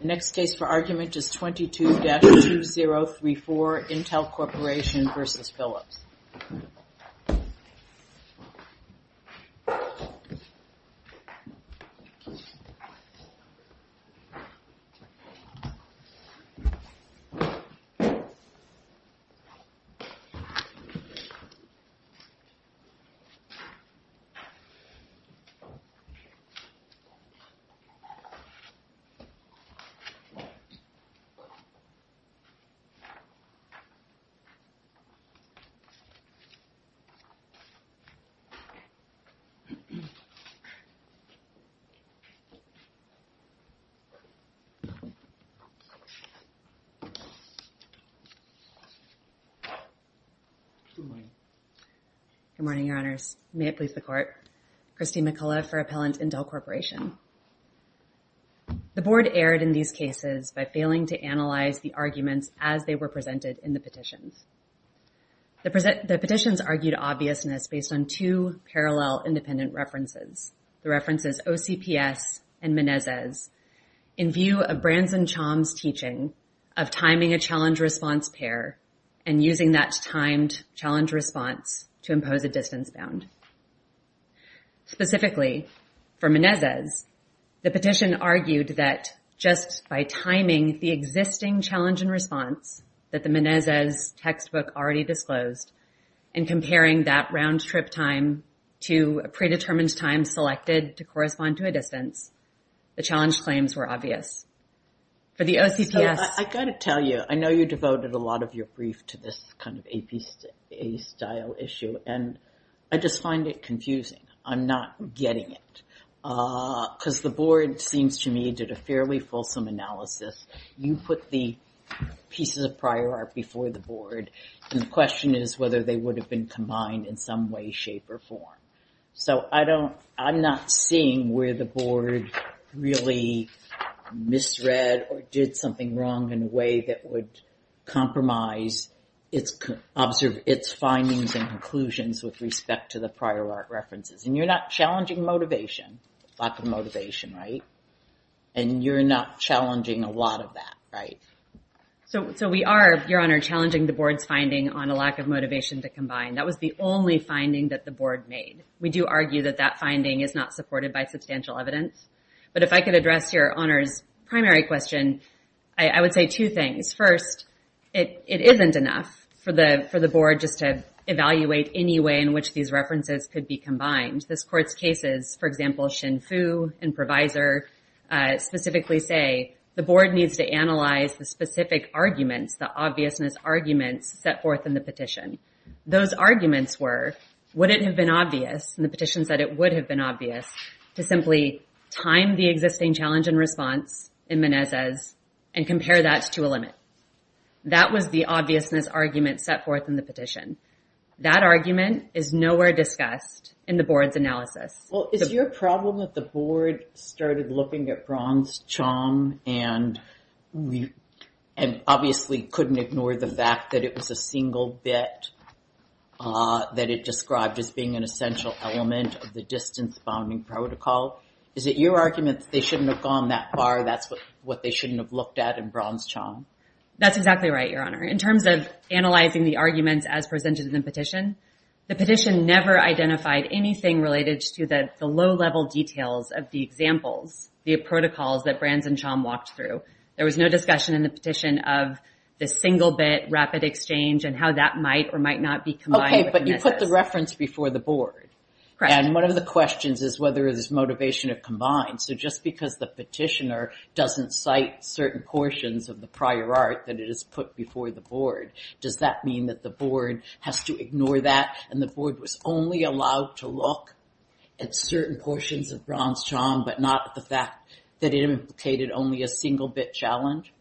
The next case for argument is 22-2034, Intel Corporation v. Philips. Good morning, your honors. May it please the court. Christine McCullough for appellant in Dell Corporation. The board erred in these cases by failing to analyze the arguments as they were presented in the petitions. The petitions argued obviousness based on two parallel independent references, the references OCPS and Menezes, in view of Branson-Chom's teaching of timing a challenge-response pair and using that timed challenge response to for Menezes, the petition argued that just by timing the existing challenge and response that the Menezes textbook already disclosed and comparing that round-trip time to a predetermined time selected to correspond to a distance, the challenge claims were obvious. For the OCPS... I got to tell you, I know you devoted a lot of your brief to this kind of APA style issue and I just find it confusing. I'm not getting it. Because the board seems to me did a fairly fulsome analysis. You put the pieces of prior art before the board and the question is whether they would have been combined in some way, shape or form. So I don't, I'm not seeing where the board really misread or did something wrong in a way that would compromise its findings and conclusions with respect to the prior art references. And you're not challenging motivation, lack of motivation, right? And you're not challenging a lot of that, right? So we are, Your Honor, challenging the board's finding on a lack of motivation to combine. That was the only finding that the board made. We do argue that that finding is not supported by substantial evidence. But if I could address Your Honor's primary question, I would say two things. First, it isn't enough for the board just to evaluate any way in which these references could be combined. This court's cases, for example, Shin Fu and Provisor specifically say, the board needs to analyze the specific arguments, the obviousness arguments set forth in the petition. Those arguments were, would it have been obvious in the petitions that it would have been obvious to simply time the existing challenge and response in Menezes and compare that to a limit? That was the obviousness argument set forth in the petition. That argument is nowhere discussed in the board's analysis. Well, is your problem that the board started looking at Braun's charm and obviously couldn't ignore the fact that it was a single bit that it described as being an essential element of the distance-bounding protocol? Is it your argument that they shouldn't have gone that far? That's what they shouldn't have looked at in Braun's charm? That's exactly right, Your Honor. In terms of analyzing the arguments as presented in the petition, the petition never identified anything related to the low-level details of the examples, the protocols that Branz and Chom walked through. There was no discussion in the petition of the single bit rapid exchange and how that might or might not be combined with Menezes. Okay, but you put the reference before the board. Correct. And one of the questions is whether there's motivation to combine. So just because the site certain portions of the prior art that it is put before the board, does that mean that the board has to ignore that and the board was only allowed to look at certain portions of Braun's charm but not the fact that it implicated only a single bit challenge?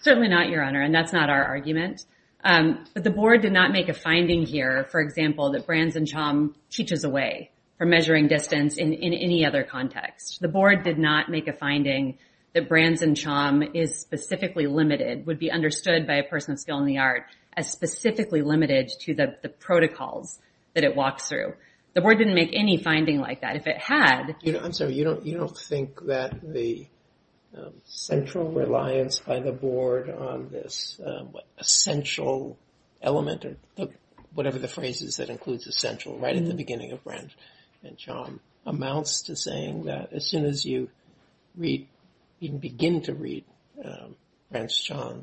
Certainly not, Your Honor, and that's not our argument. But the board did not make a finding here, for example, that Branz and Chom teaches away from measuring distance in any other context. The board did not make a finding that Branz and Chom is specifically limited, would be understood by a person of skill in the art as specifically limited to the protocols that it walks through. The board didn't make any finding like that. If it had... I'm sorry, you don't think that the central reliance by the board on this essential element or whatever the phrase is that includes essential right at the beginning of Branz and Chom amounts to saying that as soon as you read, even begin to read Branz and Chom,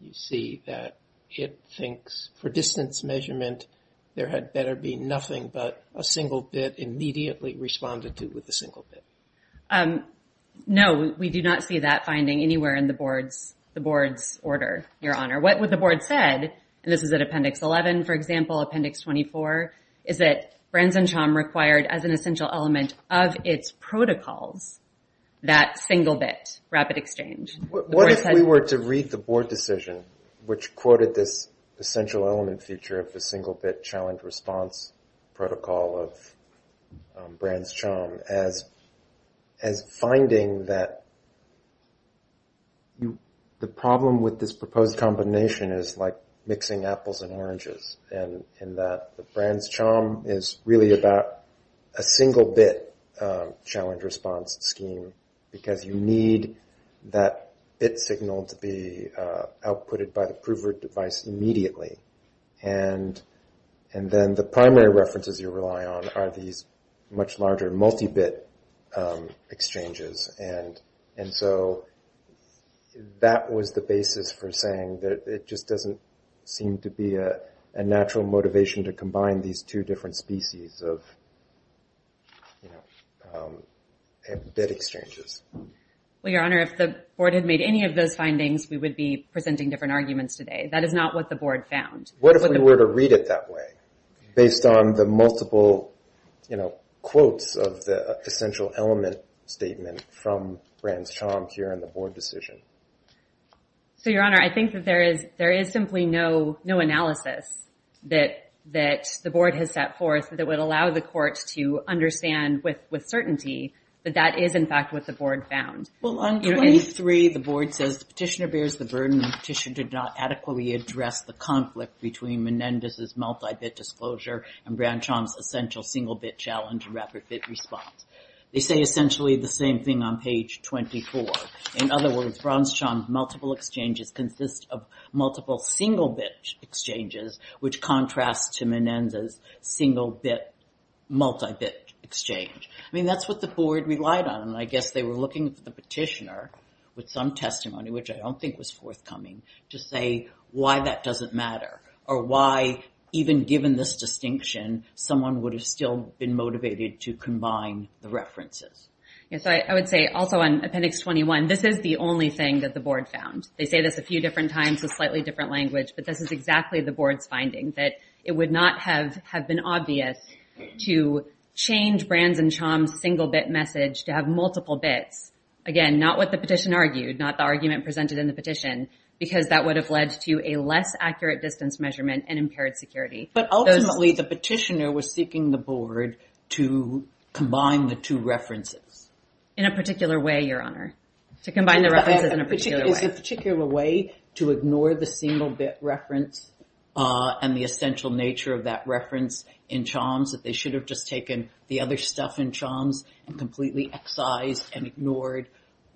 you see that it thinks for distance measurement, there had better be nothing but a single bit immediately responded to with a single bit. No, we do not see that finding anywhere in the board's order, Your Honor. What would the board said, and this is at appendix 11, for example, appendix 24, is that Branz and Chom required as essential element of its protocols, that single bit rapid exchange. What if we were to read the board decision, which quoted this essential element feature of the single bit challenge response protocol of Branz and Chom as finding that the problem with this proposed combination is like mixing apples and oranges, and that the Branz-Chom is really about a single bit challenge response scheme, because you need that bit signal to be outputted by the prover device immediately, and then the primary references you rely on are these much larger multi-bit exchanges, and so that was the basis for saying that it just doesn't seem to be a natural motivation to combine these two different species of bit exchanges. Well, Your Honor, if the board had made any of those findings, we would be presenting different arguments today. That is not what the board found. What if we were to read it that way, based on the multiple quotes of the essential element statement from Branz-Chom here in the board decision? So, Your Honor, I think that there is simply no analysis that the board has set forth that would allow the court to understand with certainty that that is, in fact, what the board found. Well, on 23, the board says the petitioner bears the burden the petition did not adequately address the conflict between Menendez's multi-bit disclosure and Branz-Chom's essential single bit challenge rapid response. They say essentially the same thing on page 24. In other words, Branz-Chom's multiple exchanges consist of multiple single-bit exchanges, which contrasts to Menendez's single-bit multi-bit exchange. I mean, that's what the board relied on, and I guess they were looking for the petitioner with some testimony, which I don't think was forthcoming, to say why that doesn't matter, or why, even given this distinction, someone would have still been motivated to combine the references. Yes, I would say also on appendix 21, this is the only thing that the board found. They say this a few different times in slightly different language, but this is exactly the board's finding, that it would not have been obvious to change Branz-Chom's single-bit message to have multiple bits. Again, not what the petition argued, not the argument presented in the petition, because that would have led to a less accurate distance measurement and impaired security. But ultimately, the petitioner was seeking the board to combine the two references. In a particular way, Your Honor. To combine the references in a particular way. A particular way to ignore the single-bit reference and the essential nature of that reference in Choms, that they should have just taken the other stuff in Choms and completely excised and ignored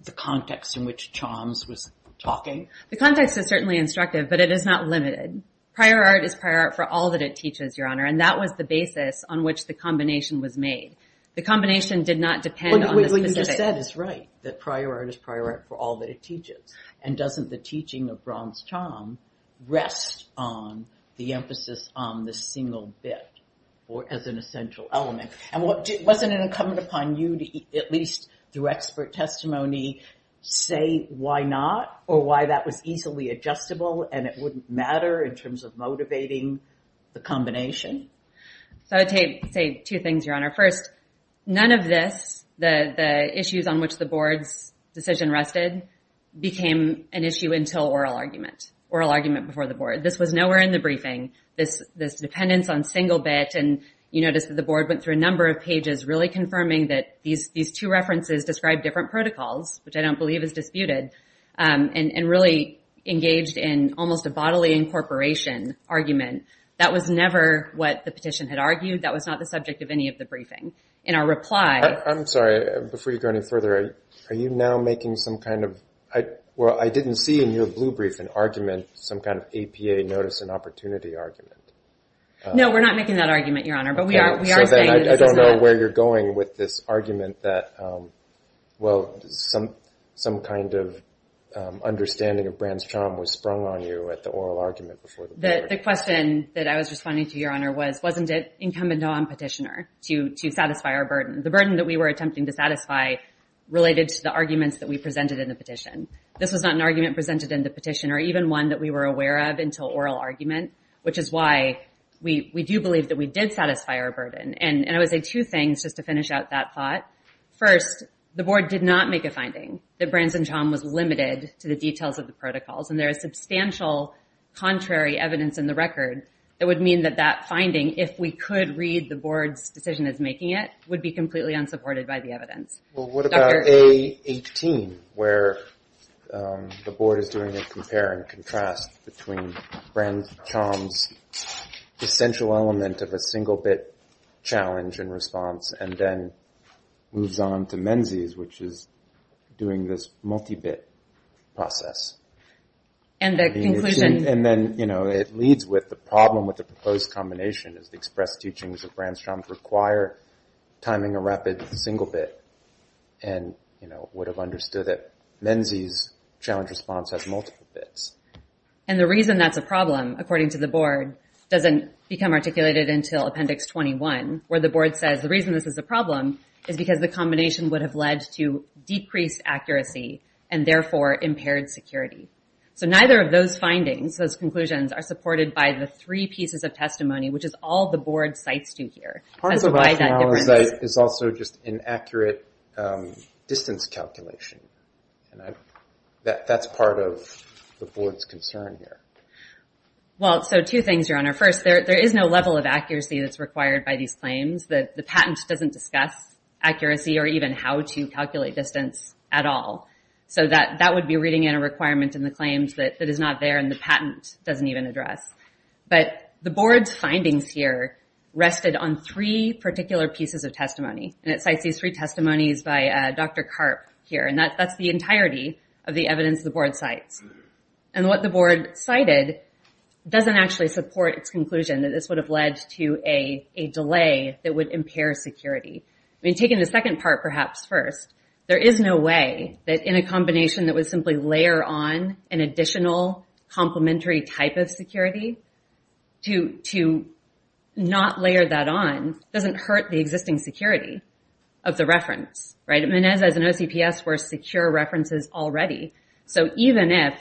the context in which Choms was talking. The context is certainly instructive, but it is not limited. Prior art is prior art for all that it teaches, Your Honor. And that was the basis on which the combination was made. The combination did not depend on the specifics. What you just said is right, that prior art is prior art for all that it teaches. And doesn't the teaching of Branz-Chom rest on the emphasis on the single bit as an essential element? And wasn't it incumbent upon you to, at least through expert testimony, say why not or why that was easily adjustable and it wouldn't matter in terms of motivating the combination? So I would say two things, Your Honor. First, none of this, the issues on which the board's decision rested, became an issue until oral argument. Oral argument before the board. This was nowhere in the briefing, this dependence on single bit. And you notice that the board went through a number of pages, really confirming that these two references describe different protocols, which I don't believe is disputed. And really engaged in almost a bodily incorporation argument. That was never what the petition had argued. That was not the subject of any of the briefing. In our reply... I'm sorry, before you go any further, are you now making some kind of... Well, I didn't see in your blue brief an argument, some kind of APA notice and opportunity argument. No, we're not making that argument, Your Honor. So then I don't know where you're going with this argument that, well, some kind of understanding of Brand's charm was sprung on you at the oral argument before the board. The question that I was responding to, Your Honor, was wasn't it incumbent on Petitioner to satisfy our burden? The burden that we were attempting to satisfy related to the arguments that we presented in the petition. This was not an argument presented in the petition, or even one that we were aware of until oral argument. Which is why we do believe that we did satisfy our burden. And I would say two things just to finish out that thought. First, the board did not make a finding that Brand's charm was limited to the details of the protocols. And there is substantial contrary evidence in the record that would mean that that finding, if we could read the board's decision as making it, would be completely unsupported by the evidence. Well, what about A18, where the board is doing a compare and contrast between Brand's charm's essential element of a single bit challenge and response, and then moves on to Menzi's, which is doing this multi-bit process. And the conclusion... And then it leads with the problem with the proposed combination is the expressed teachings of Brand's charm require timing a rapid single bit. And would have understood that Menzi's challenge response has multiple bits. And the reason that's a problem, according to the board, doesn't become articulated until Appendix 21, where the board says the reason this is a problem is because the combination would have led to decreased accuracy, and therefore impaired security. So neither of those findings, those conclusions, are supported by the three pieces of testimony, which is all the board cites to here. That's why that difference is... Part of the rationale is that it's also just inaccurate distance calculation. And that's part of the board's concern here. Well, so two things, Your Honor. First, there is no level of accuracy that's required by these claims. That the patent doesn't discuss accuracy, or even how to calculate distance at all. So that would be reading in a requirement in the claims that is not there, and the patent doesn't even address. But the board's findings here rested on three particular pieces of testimony. And it cites these three testimonies by Dr. Karp here. That's the entirety of the evidence the board cites. And what the board cited doesn't actually support its conclusion that this would have led to a delay that would impair security. I mean, taking the second part perhaps first, there is no way that in a combination that would simply layer on an additional complementary type of security, to not layer that on doesn't hurt the existing security of the reference, right? Secure references already. So even if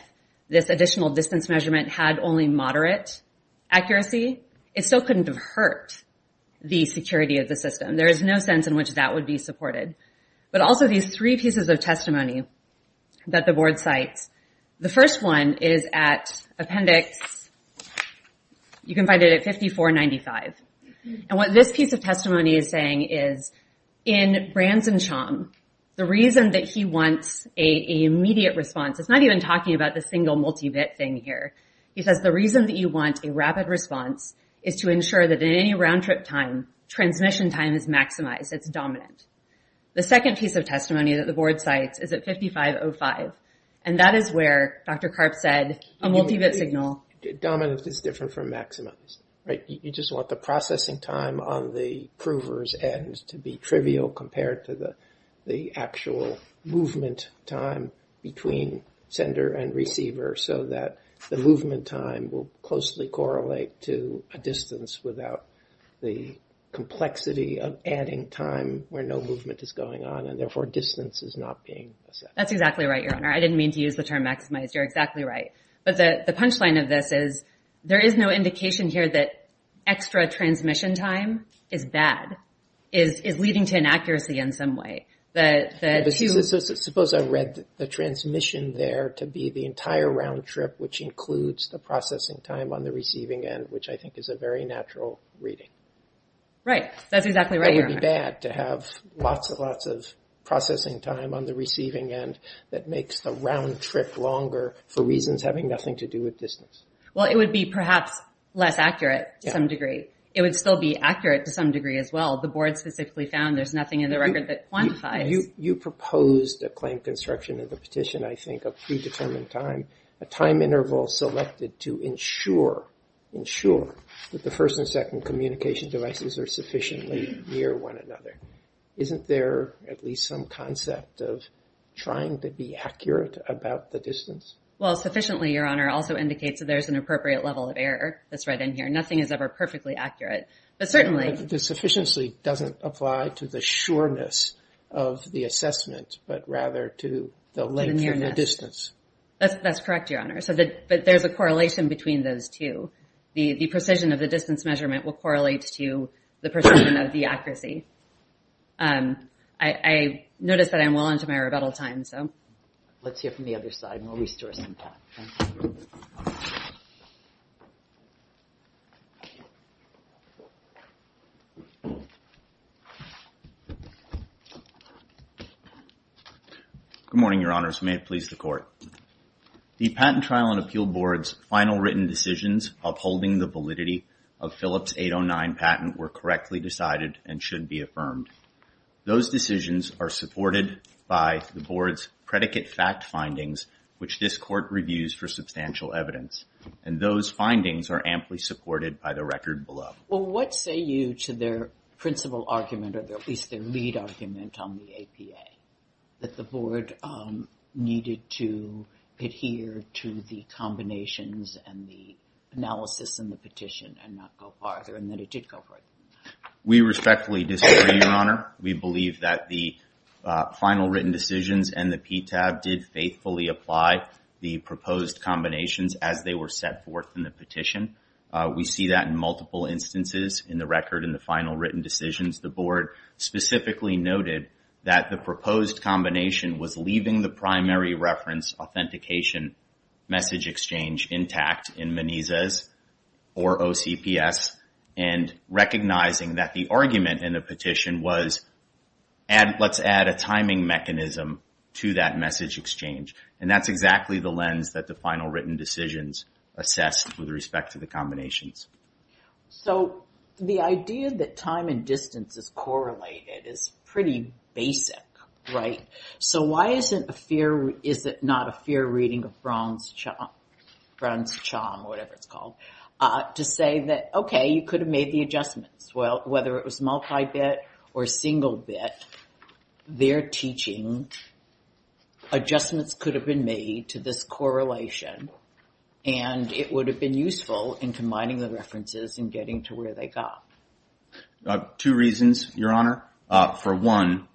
this additional distance measurement had only moderate accuracy, it still couldn't have hurt the security of the system. There is no sense in which that would be supported. But also these three pieces of testimony that the board cites. The first one is at appendix, you can find it at 5495. And what this piece of testimony is saying is, in Branson-Chom, the reason that he wants a immediate response, it's not even talking about the single multi-bit thing here. He says, the reason that you want a rapid response is to ensure that in any round-trip time, transmission time is maximized, it's dominant. The second piece of testimony that the board cites is at 5505. And that is where Dr. Karp said, a multi-bit signal. Dominant is different from maximized, right? You just want the processing time on the prover's end to be trivial compared to the actual movement time between sender and receiver so that the movement time will closely correlate to a distance without the complexity of adding time where no movement is going on and therefore distance is not being assessed. That's exactly right, Your Honor. I didn't mean to use the term maximized. You're exactly right. But the punchline of this is, there is no indication here that extra transmission time is bad, is leading to inaccuracy in some way. Suppose I read the transmission there to be the entire round-trip, which includes the processing time on the receiving end, which I think is a very natural reading. Right, that's exactly right, Your Honor. That would be bad to have lots and lots of processing time on the receiving end that makes the round-trip longer for reasons having nothing to do with distance. Well, it would be perhaps less accurate to some degree. It would still be accurate to some degree as well. The board specifically found there's nothing in the record that quantifies. You proposed a claim construction of the petition, I think, of predetermined time, a time interval selected to ensure, ensure that the first and second communication devices are sufficiently near one another. Isn't there at least some concept of trying to be accurate about the distance? Well, sufficiently, Your Honor, also indicates that there's an appropriate level of error that's right in here. Nothing is ever perfectly accurate, but certainly... The sufficiently doesn't apply to the sureness of the assessment, but rather to the length and the distance. That's correct, Your Honor. So there's a correlation between those two. The precision of the distance measurement will correlate to the precision of the accuracy. I noticed that I'm well into my rebuttal time, so... Let's hear from the other side and we'll restore some time. Okay. Good morning, Your Honors. May it please the Court. The Patent Trial and Appeal Board's final written decisions upholding the validity of Phillips 809 patent were correctly decided and should be affirmed. Those decisions are supported by the Board's predicate fact findings, which this Court reviews for substantial evidence, and those findings are amply supported by the record below. Well, what say you to their principal argument, or at least their lead argument on the APA, that the Board needed to adhere to the combinations and the analysis and the petition and not go farther, and that it did go farther? We respectfully disagree, Your Honor. We believe that the final written decisions and the PTAB did faithfully apply the proposed combinations as they were set forth in the petition. We see that in multiple instances in the record in the final written decisions. The Board specifically noted that the proposed combination was leaving the primary reference authentication message exchange intact in MENIZAS or OCPS and recognizing that the argument in the petition was, let's add a timing mechanism to that message exchange. And that's exactly the lens that the final written decisions assessed with respect to the combinations. So the idea that time and distance is correlated is pretty basic, right? So why is it a fair, is it not a fair reading of Braun's charm, Braun's charm, whatever it's called, to say that, okay, you could have made the adjustments. Well, whether it was multi-bit or single bit, they're teaching that adjustments could have been made to this correlation and it would have been useful in combining the references and getting to where they got. Two reasons, Your Honor. For one,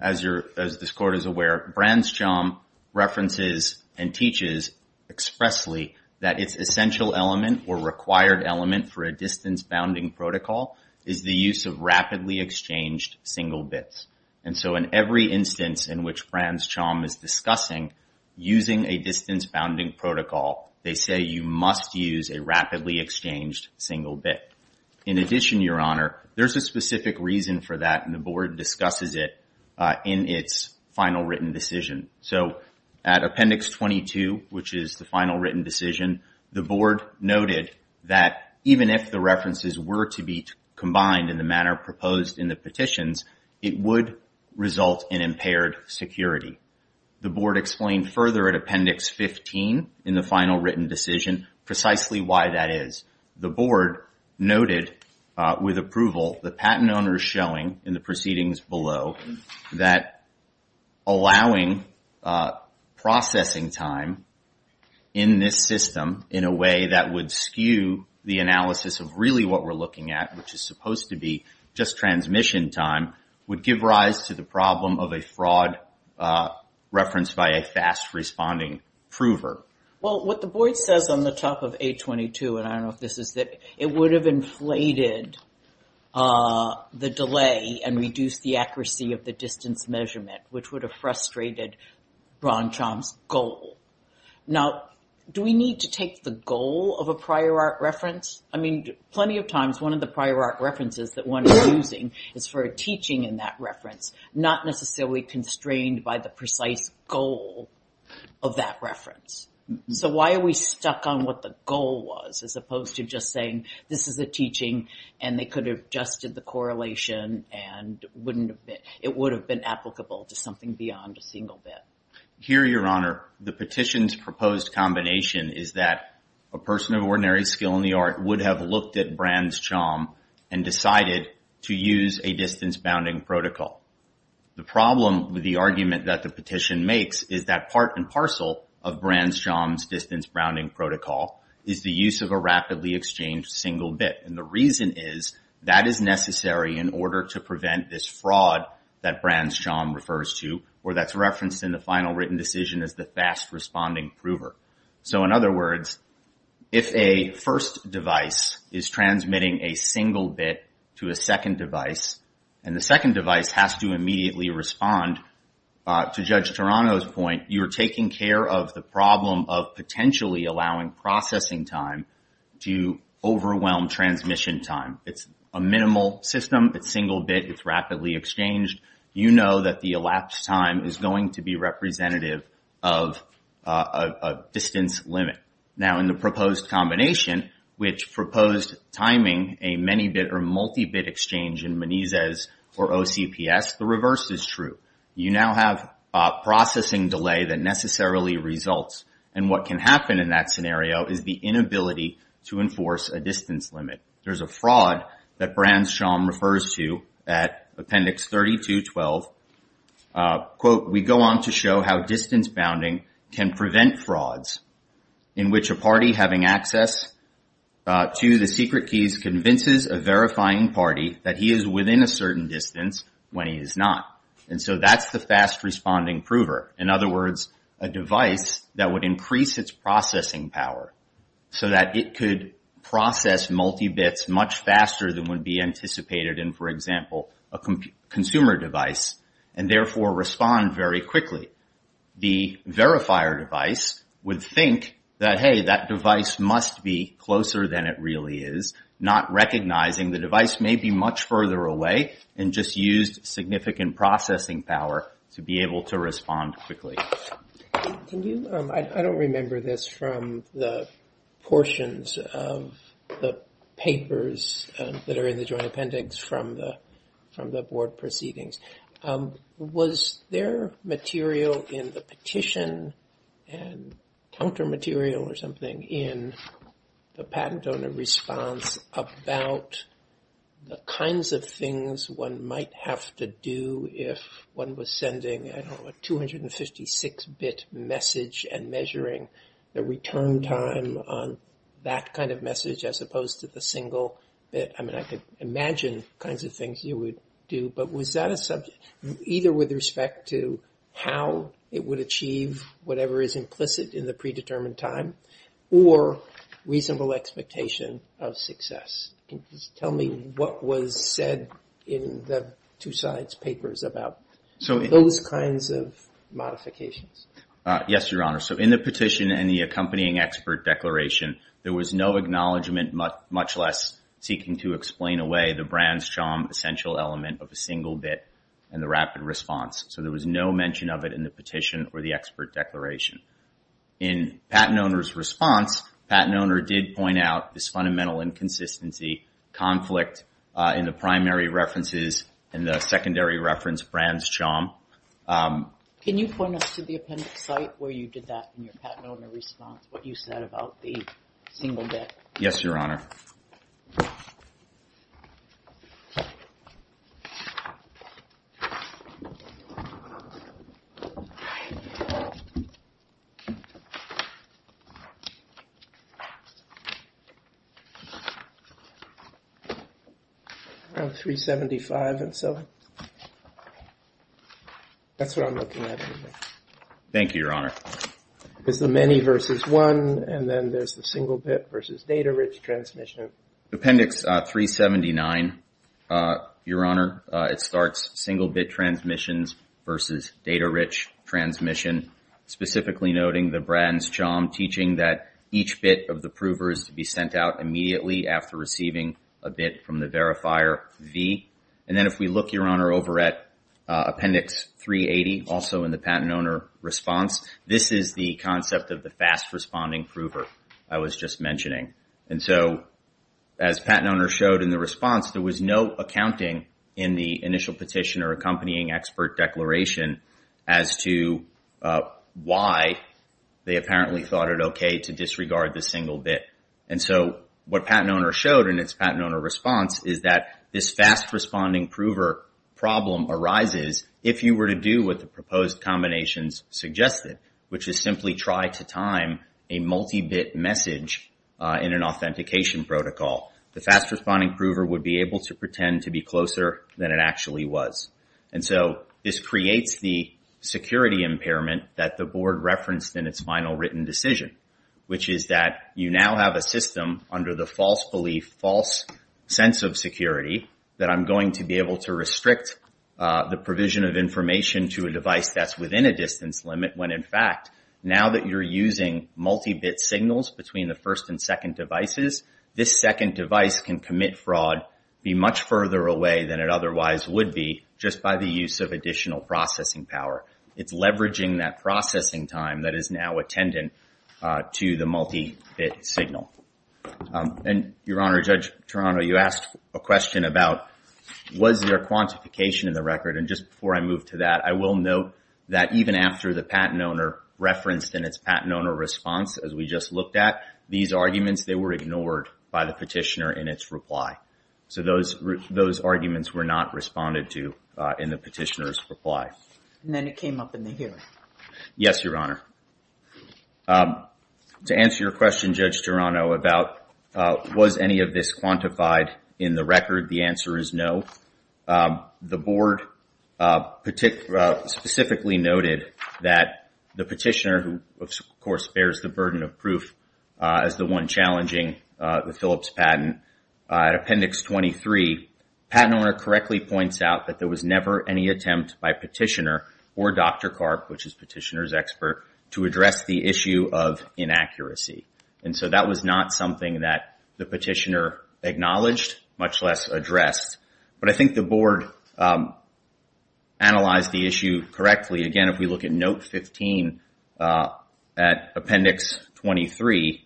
as this Court is aware, Braun's charm references and teaches expressly that its essential element or required element for a distance bounding protocol is the use of rapidly exchanged single bits. And so in every instance in which Braun's charm is discussing using a distance bounding protocol, they say you must use a rapidly exchanged single bit. In addition, Your Honor, there's a specific reason for that and the Board discusses it in its final written decision. So at Appendix 22, which is the final written decision, the Board noted that even if the references were to be combined in the manner proposed in the petitions, it would result in impaired security. The Board explained further at Appendix 15 in the final written decision precisely why that is. The Board noted with approval the patent owners showing in the proceedings below that allowing processing time in this system in a way that would skew the analysis of really what we're looking at, which is supposed to be just transmission time, would give rise to the problem of a fraud reference by a fast responding prover. Well, what the Board says on the top of 822, and I don't know if this is that, it would have inflated the delay and reduce the accuracy of the distance measurement, which would have frustrated Braun's charm's goal. Now, do we need to take the goal of a prior art reference? I mean, plenty of times one of the prior art references that one is using is for a teaching in that reference, not necessarily constrained by the precise goal of that reference. So why are we stuck on what the goal was as opposed to just saying this is a teaching and they could have adjusted the correlation and it would have been applicable to something beyond a single bit. Here, Your Honor, the petition's proposed combination is that a person of ordinary skill in the art would have looked at Braun's charm and decided to use a distance bounding protocol. The problem with the argument that the petition makes is that part and parcel of Braun's charm's distance bounding protocol is the use of a rapidly exchanged single bit. And the reason is that is necessary in order to prevent this fraud that Braun's charm refers to, or that's referenced in the final written decision as the fast responding prover. So in other words, if a first device is transmitting a single bit to a second device, and the second device has to immediately respond to Judge Toronto's point, you're taking care of the problem of potentially allowing processing time to overwhelm transmission time. It's a minimal system. It's single bit. It's rapidly exchanged. You know that the elapsed time is going to be representative of a distance limit. Now, in the proposed combination, which proposed timing a many bit or multi-bit exchange in Moniz's or OCPS, the reverse is true. You now have processing delay that necessarily results. And what can happen in that scenario is the inability to enforce a distance limit. There's a fraud that Braun's charm refers to at appendix 3212. Quote, we go on to show how distance bounding can prevent frauds in which a party having access to the secret keys convinces a verifying party that he is within a certain distance when he is not. And so that's the fast responding prover. In other words, a device that would increase its processing power so that it could process multi-bits much faster than would be anticipated in, for example, a consumer device and therefore respond very quickly. The verifier device would think that, hey, that device must be closer than it really is, not recognizing the device may be much further away and just used significant processing power to be able to respond quickly. Can you, I don't remember this from the portions of the papers that are in the joint appendix from the board proceedings. Was there material in the petition and counter material in the patent donor response about the kinds of things one might have to do if one was sending a 256-bit message and measuring the return time on that kind of message as opposed to the single bit? I mean, I could imagine kinds of things you would do, but was that a subject either with respect to how it would achieve whatever is implicit in the predetermined time or reasonable expectation of success? Can you just tell me what was said in the two sides papers about those kinds of modifications? Yes, Your Honor. So in the petition and the accompanying expert declaration, there was no acknowledgement, much less seeking to explain away the brand strong essential element of a single bit and the rapid response. So there was no mention of it in the petition or the expert declaration. In patent owner's response, patent owner did point out this fundamental inconsistency, conflict in the primary references and the secondary reference brand's charm. Can you point us to the appendix site where you did that in your patent owner response, what you said about the single bit? Yes, Your Honor. Appendix 375 and so on. That's what I'm looking at. Thank you, Your Honor. There's the many versus one and then there's the single bit versus data-rich transmission. Appendix 379, Your Honor. It starts single bit transmissions versus data-rich transmission, specifically noting the brand's charm, teaching that each bit of the prover is to be sent out immediately after receiving a bit from the verifier, V. And then if we look, Your Honor, over at appendix 380, also in the patent owner response, this is the concept of the fast-responding prover I was just mentioning. And so as patent owner showed in the response, there was no accounting in the initial petition or accompanying expert declaration as to why they apparently thought it okay to disregard the single bit. And so what patent owner showed in its patent owner response is that this fast-responding prover problem arises if you were to do what the proposed combinations suggested, which is simply try to time a multi-bit message in an authentication protocol. The fast-responding prover would be able to pretend to be closer than it actually was. And so this creates the security impairment that the board referenced in its final written decision, which is that you now have a system under the false belief, false sense of security that I'm going to be able to restrict the provision of information to a device that's within a distance limit, when in fact, now that you're using multi-bit signals between the first and second devices, this second device can commit fraud, be much further away than it otherwise would be just by the use of additional processing power. It's leveraging that processing time that is now attendant to the multi-bit signal. And Your Honor, Judge Toronto, you asked a question about was there quantification in the record? And just before I move to that, I will note that even after the patent owner referenced in its patent owner response, as we just looked at, these arguments, they were ignored by the petitioner in its reply. So those arguments were not responded to in the petitioner's reply. And then it came up in the hearing. Yes, Your Honor. To answer your question, Judge Toronto, about was any of this quantified in the record? The answer is no. The board specifically noted that the petitioner, who of course bears the burden of proof as the one challenging the Phillips patent, at Appendix 23, patent owner correctly points out that there was never any attempt by petitioner or Dr. Karp, which is petitioner's expert, to address the issue of inaccuracy. And so that was not something that the petitioner acknowledged, much less addressed. But I think the board analyzed the issue correctly. Again, if we look at Note 15 at Appendix 23,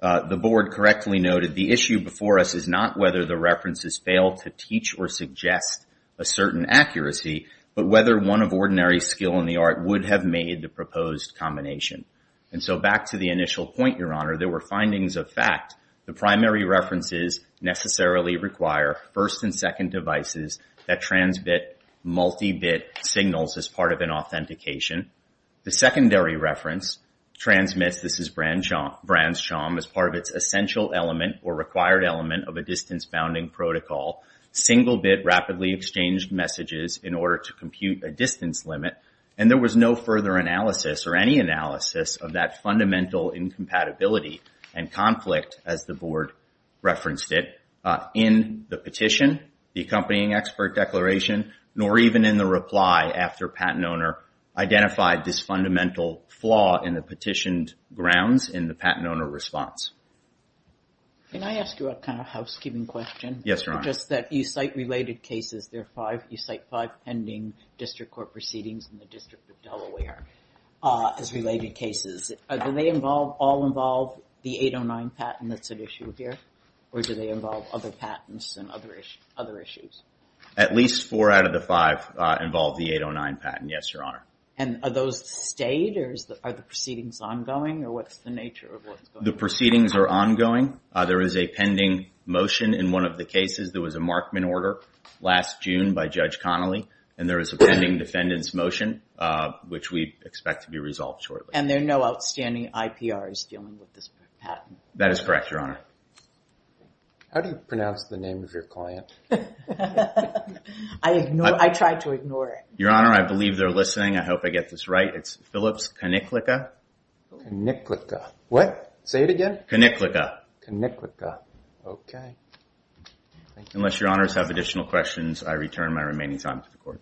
the board correctly noted the issue before us is not whether the references fail to teach or suggest a certain accuracy, but whether one of ordinary skill in the art would have made the proposed combination. And so back to the initial point, Your Honor, there were findings of fact. The primary references necessarily require first and second devices that transmit multi-bit signals as part of an authentication. The secondary reference transmits, this is Branscham, as part of its essential element or required element of a distance bounding protocol, single-bit rapidly exchanged messages in order to compute a distance limit. And there was no further analysis or any analysis of that fundamental incompatibility and conflict, as the board referenced it, in the petition, the accompanying expert declaration, nor even in the reply after patent owner identified this fundamental flaw in the petitioned grounds in the patent owner response. Can I ask you a kind of housekeeping question? Yes, Your Honor. Just that you cite related cases, there are five, you cite five pending district court proceedings in the District of Delaware as related cases. Do they all involve the 809 patent that's at issue here, or do they involve other patents and other issues? At least four out of the five involve the 809 patent, yes, Your Honor. And are those stayed, or are the proceedings ongoing, or what's the nature of what's going on? The proceedings are ongoing. There is a pending motion in one of the cases. There was a Markman order last June by Judge Connolly, and there is a pending defendant's motion, which we expect to be resolved shortly. And there are no outstanding IPRs dealing with this patent? That is correct, Your Honor. How do you pronounce the name of your client? I try to ignore it. Your Honor, I believe they're listening. I hope I get this right. It's Phillips Coniclica. Coniclica. What? Say it again. Coniclica. Coniclica. Okay. Unless Your Honors have additional questions, I return my remaining time to the Court.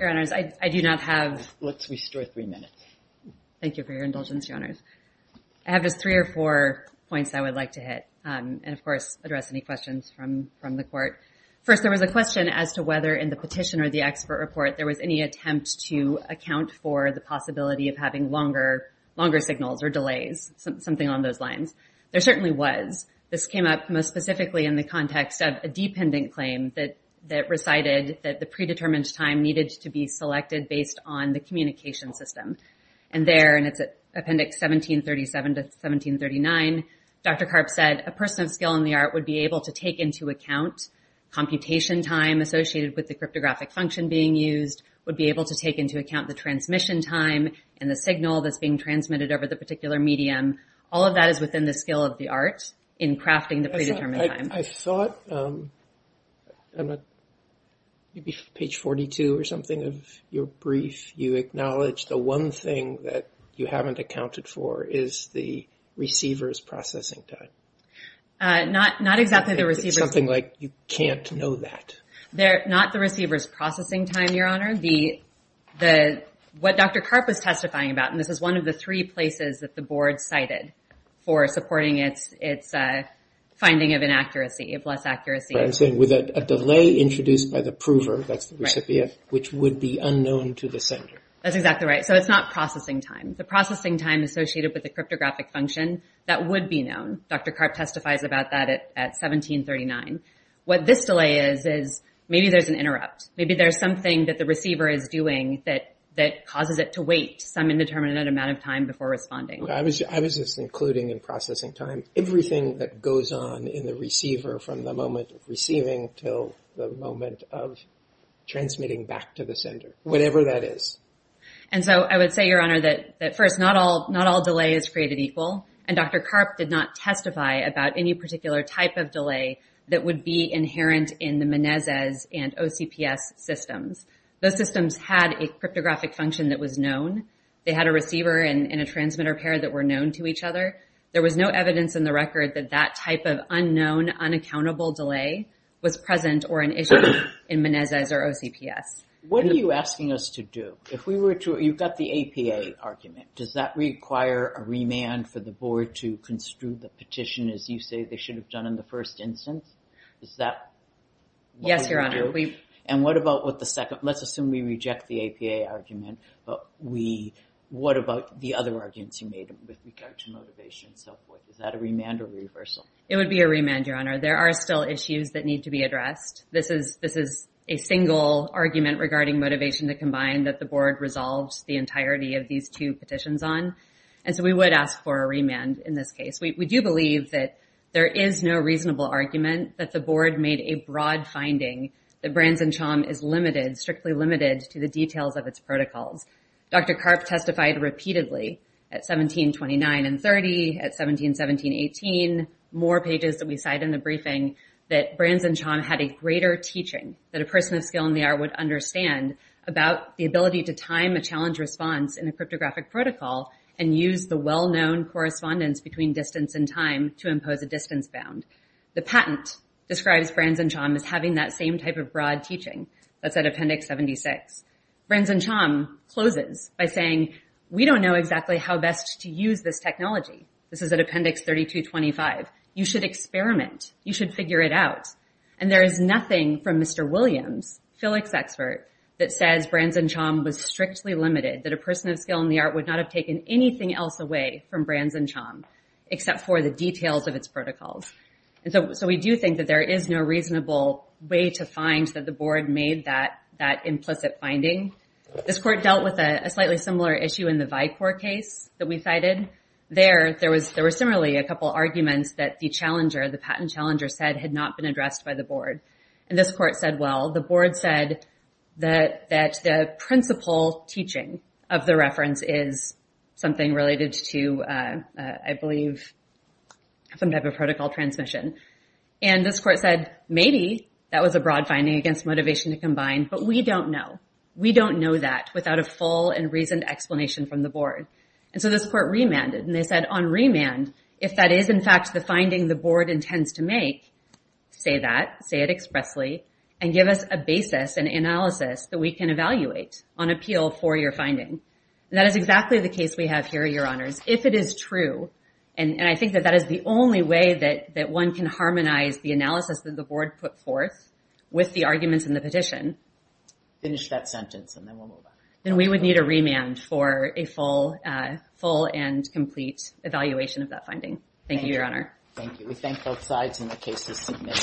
Your Honors, I do not have... Let's restore three minutes. Thank you for your indulgence, Your Honors. I have just three or four points I would like to hit, and of course, address any questions from the Court. First, there was a question as to whether in the petition or the expert report, there was any attempt to account for the possibility of having longer signals or delays, something on those lines. There certainly was. This came up most specifically in the context of a dependent claim that recited that the predetermined time needed to be selected based on the communication system. And there, and it's Appendix 1737 to 1739, Dr. Karp said, a person of skill in the art would be able to take into account computation time associated with the cryptographic function being used, would be able to take into account the transmission time and the signal that's being transmitted over the particular medium. All of that is within the skill of the art in crafting the predetermined time. I thought, maybe page 42 or something of your brief, you acknowledge the one thing that you haven't accounted for is the receiver's processing time. Not exactly the receiver's... Something like, you can't know that. Not the receiver's processing time, Your Honor. What Dr. Karp was testifying about, and this is one of the three places that the board cited for supporting its finding of inaccuracy, of less accuracy. I'm saying with a delay introduced by the prover, that's the recipient, which would be unknown to the sender. That's exactly right. So it's not processing time. The processing time associated with the cryptographic function, that would be known. Dr. Karp testifies about that at 1739. What this delay is, is maybe there's an interrupt. Maybe there's something that the receiver is doing that causes it to wait some indeterminate amount of time before responding. I was just including in processing time everything that goes on in the receiver from the moment of receiving till the moment of transmitting back to the sender, whatever that is. And so I would say, Your Honor, that first, not all delay is created equal. And Dr. Karp did not testify about any particular type of delay that would be inherent in the Menezes and OCPS systems. Those systems had a cryptographic function that was known. They had a receiver and a transmitter pair that were known to each other. There was no evidence in the record that that type of unknown, unaccountable delay was present or an issue in Menezes or OCPS. What are you asking us to do? If we were to, you've got the APA argument. Does that require a remand for the board to construe the petition as you say they should have done in the first instance? Is that what we would do? Yes, Your Honor. And what about what the second, let's assume we reject the APA argument. What about the other arguments you made with regard to motivation and so forth? Is that a remand or a reversal? It would be a remand, Your Honor. There are still issues that need to be addressed. This is a single argument regarding motivation that combined that the board resolved the entirety of these two petitions on. And so we would ask for a remand in this case. We do believe that there is no reasonable argument that the board made a broad finding that Branson-Chom is limited, strictly limited to the details of its protocols. Dr. Karp testified repeatedly at 1729 and 30, at 1717-18, more pages that we cite in the briefing that Branson-Chom had a greater teaching that a person of skill in the art would understand about the ability to time a challenge response in a cryptographic protocol and use the well-known correspondence between distance and time to impose a distance bound. The patent describes Branson-Chom as having that same type of broad teaching. That's at Appendix 76. Branson-Chom closes by saying, we don't know exactly how best to use this technology. This is at Appendix 3225. You should experiment. You should figure it out. And there is nothing from Mr. Williams, Felix expert that says Branson-Chom was strictly limited that a person of skill in the art would not have taken anything else away from Branson-Chom except for the details of its protocols. And so we do think that there is no reasonable way to find that the board made that implicit finding. This court dealt with a slightly similar issue in the Vicor case that we cited. There, there was similarly a couple arguments that the challenger, the patent challenger said had not been addressed by the board. And this court said, well, the board said that the principal teaching of the reference is something related to, I believe, some type of protocol transmission. And this court said, maybe that was a broad finding against motivation to combine, but we don't know. We don't know that without a full and reasoned explanation from the board. And so this court remanded and they said on remand, if that is in fact the finding the board intends to make, say that, say it expressly and give us a basis and analysis that we can evaluate on appeal for your finding. That is exactly the case we have here, Your Honors. If it is true, and I think that that is the only way that one can harmonize the analysis that the board put forth with the arguments in the petition. Finish that sentence and then we'll move on. Then we would need a remand for a full and complete evaluation of that finding. Thank you, Your Honor. Thank you. We thank both sides in the case this evening.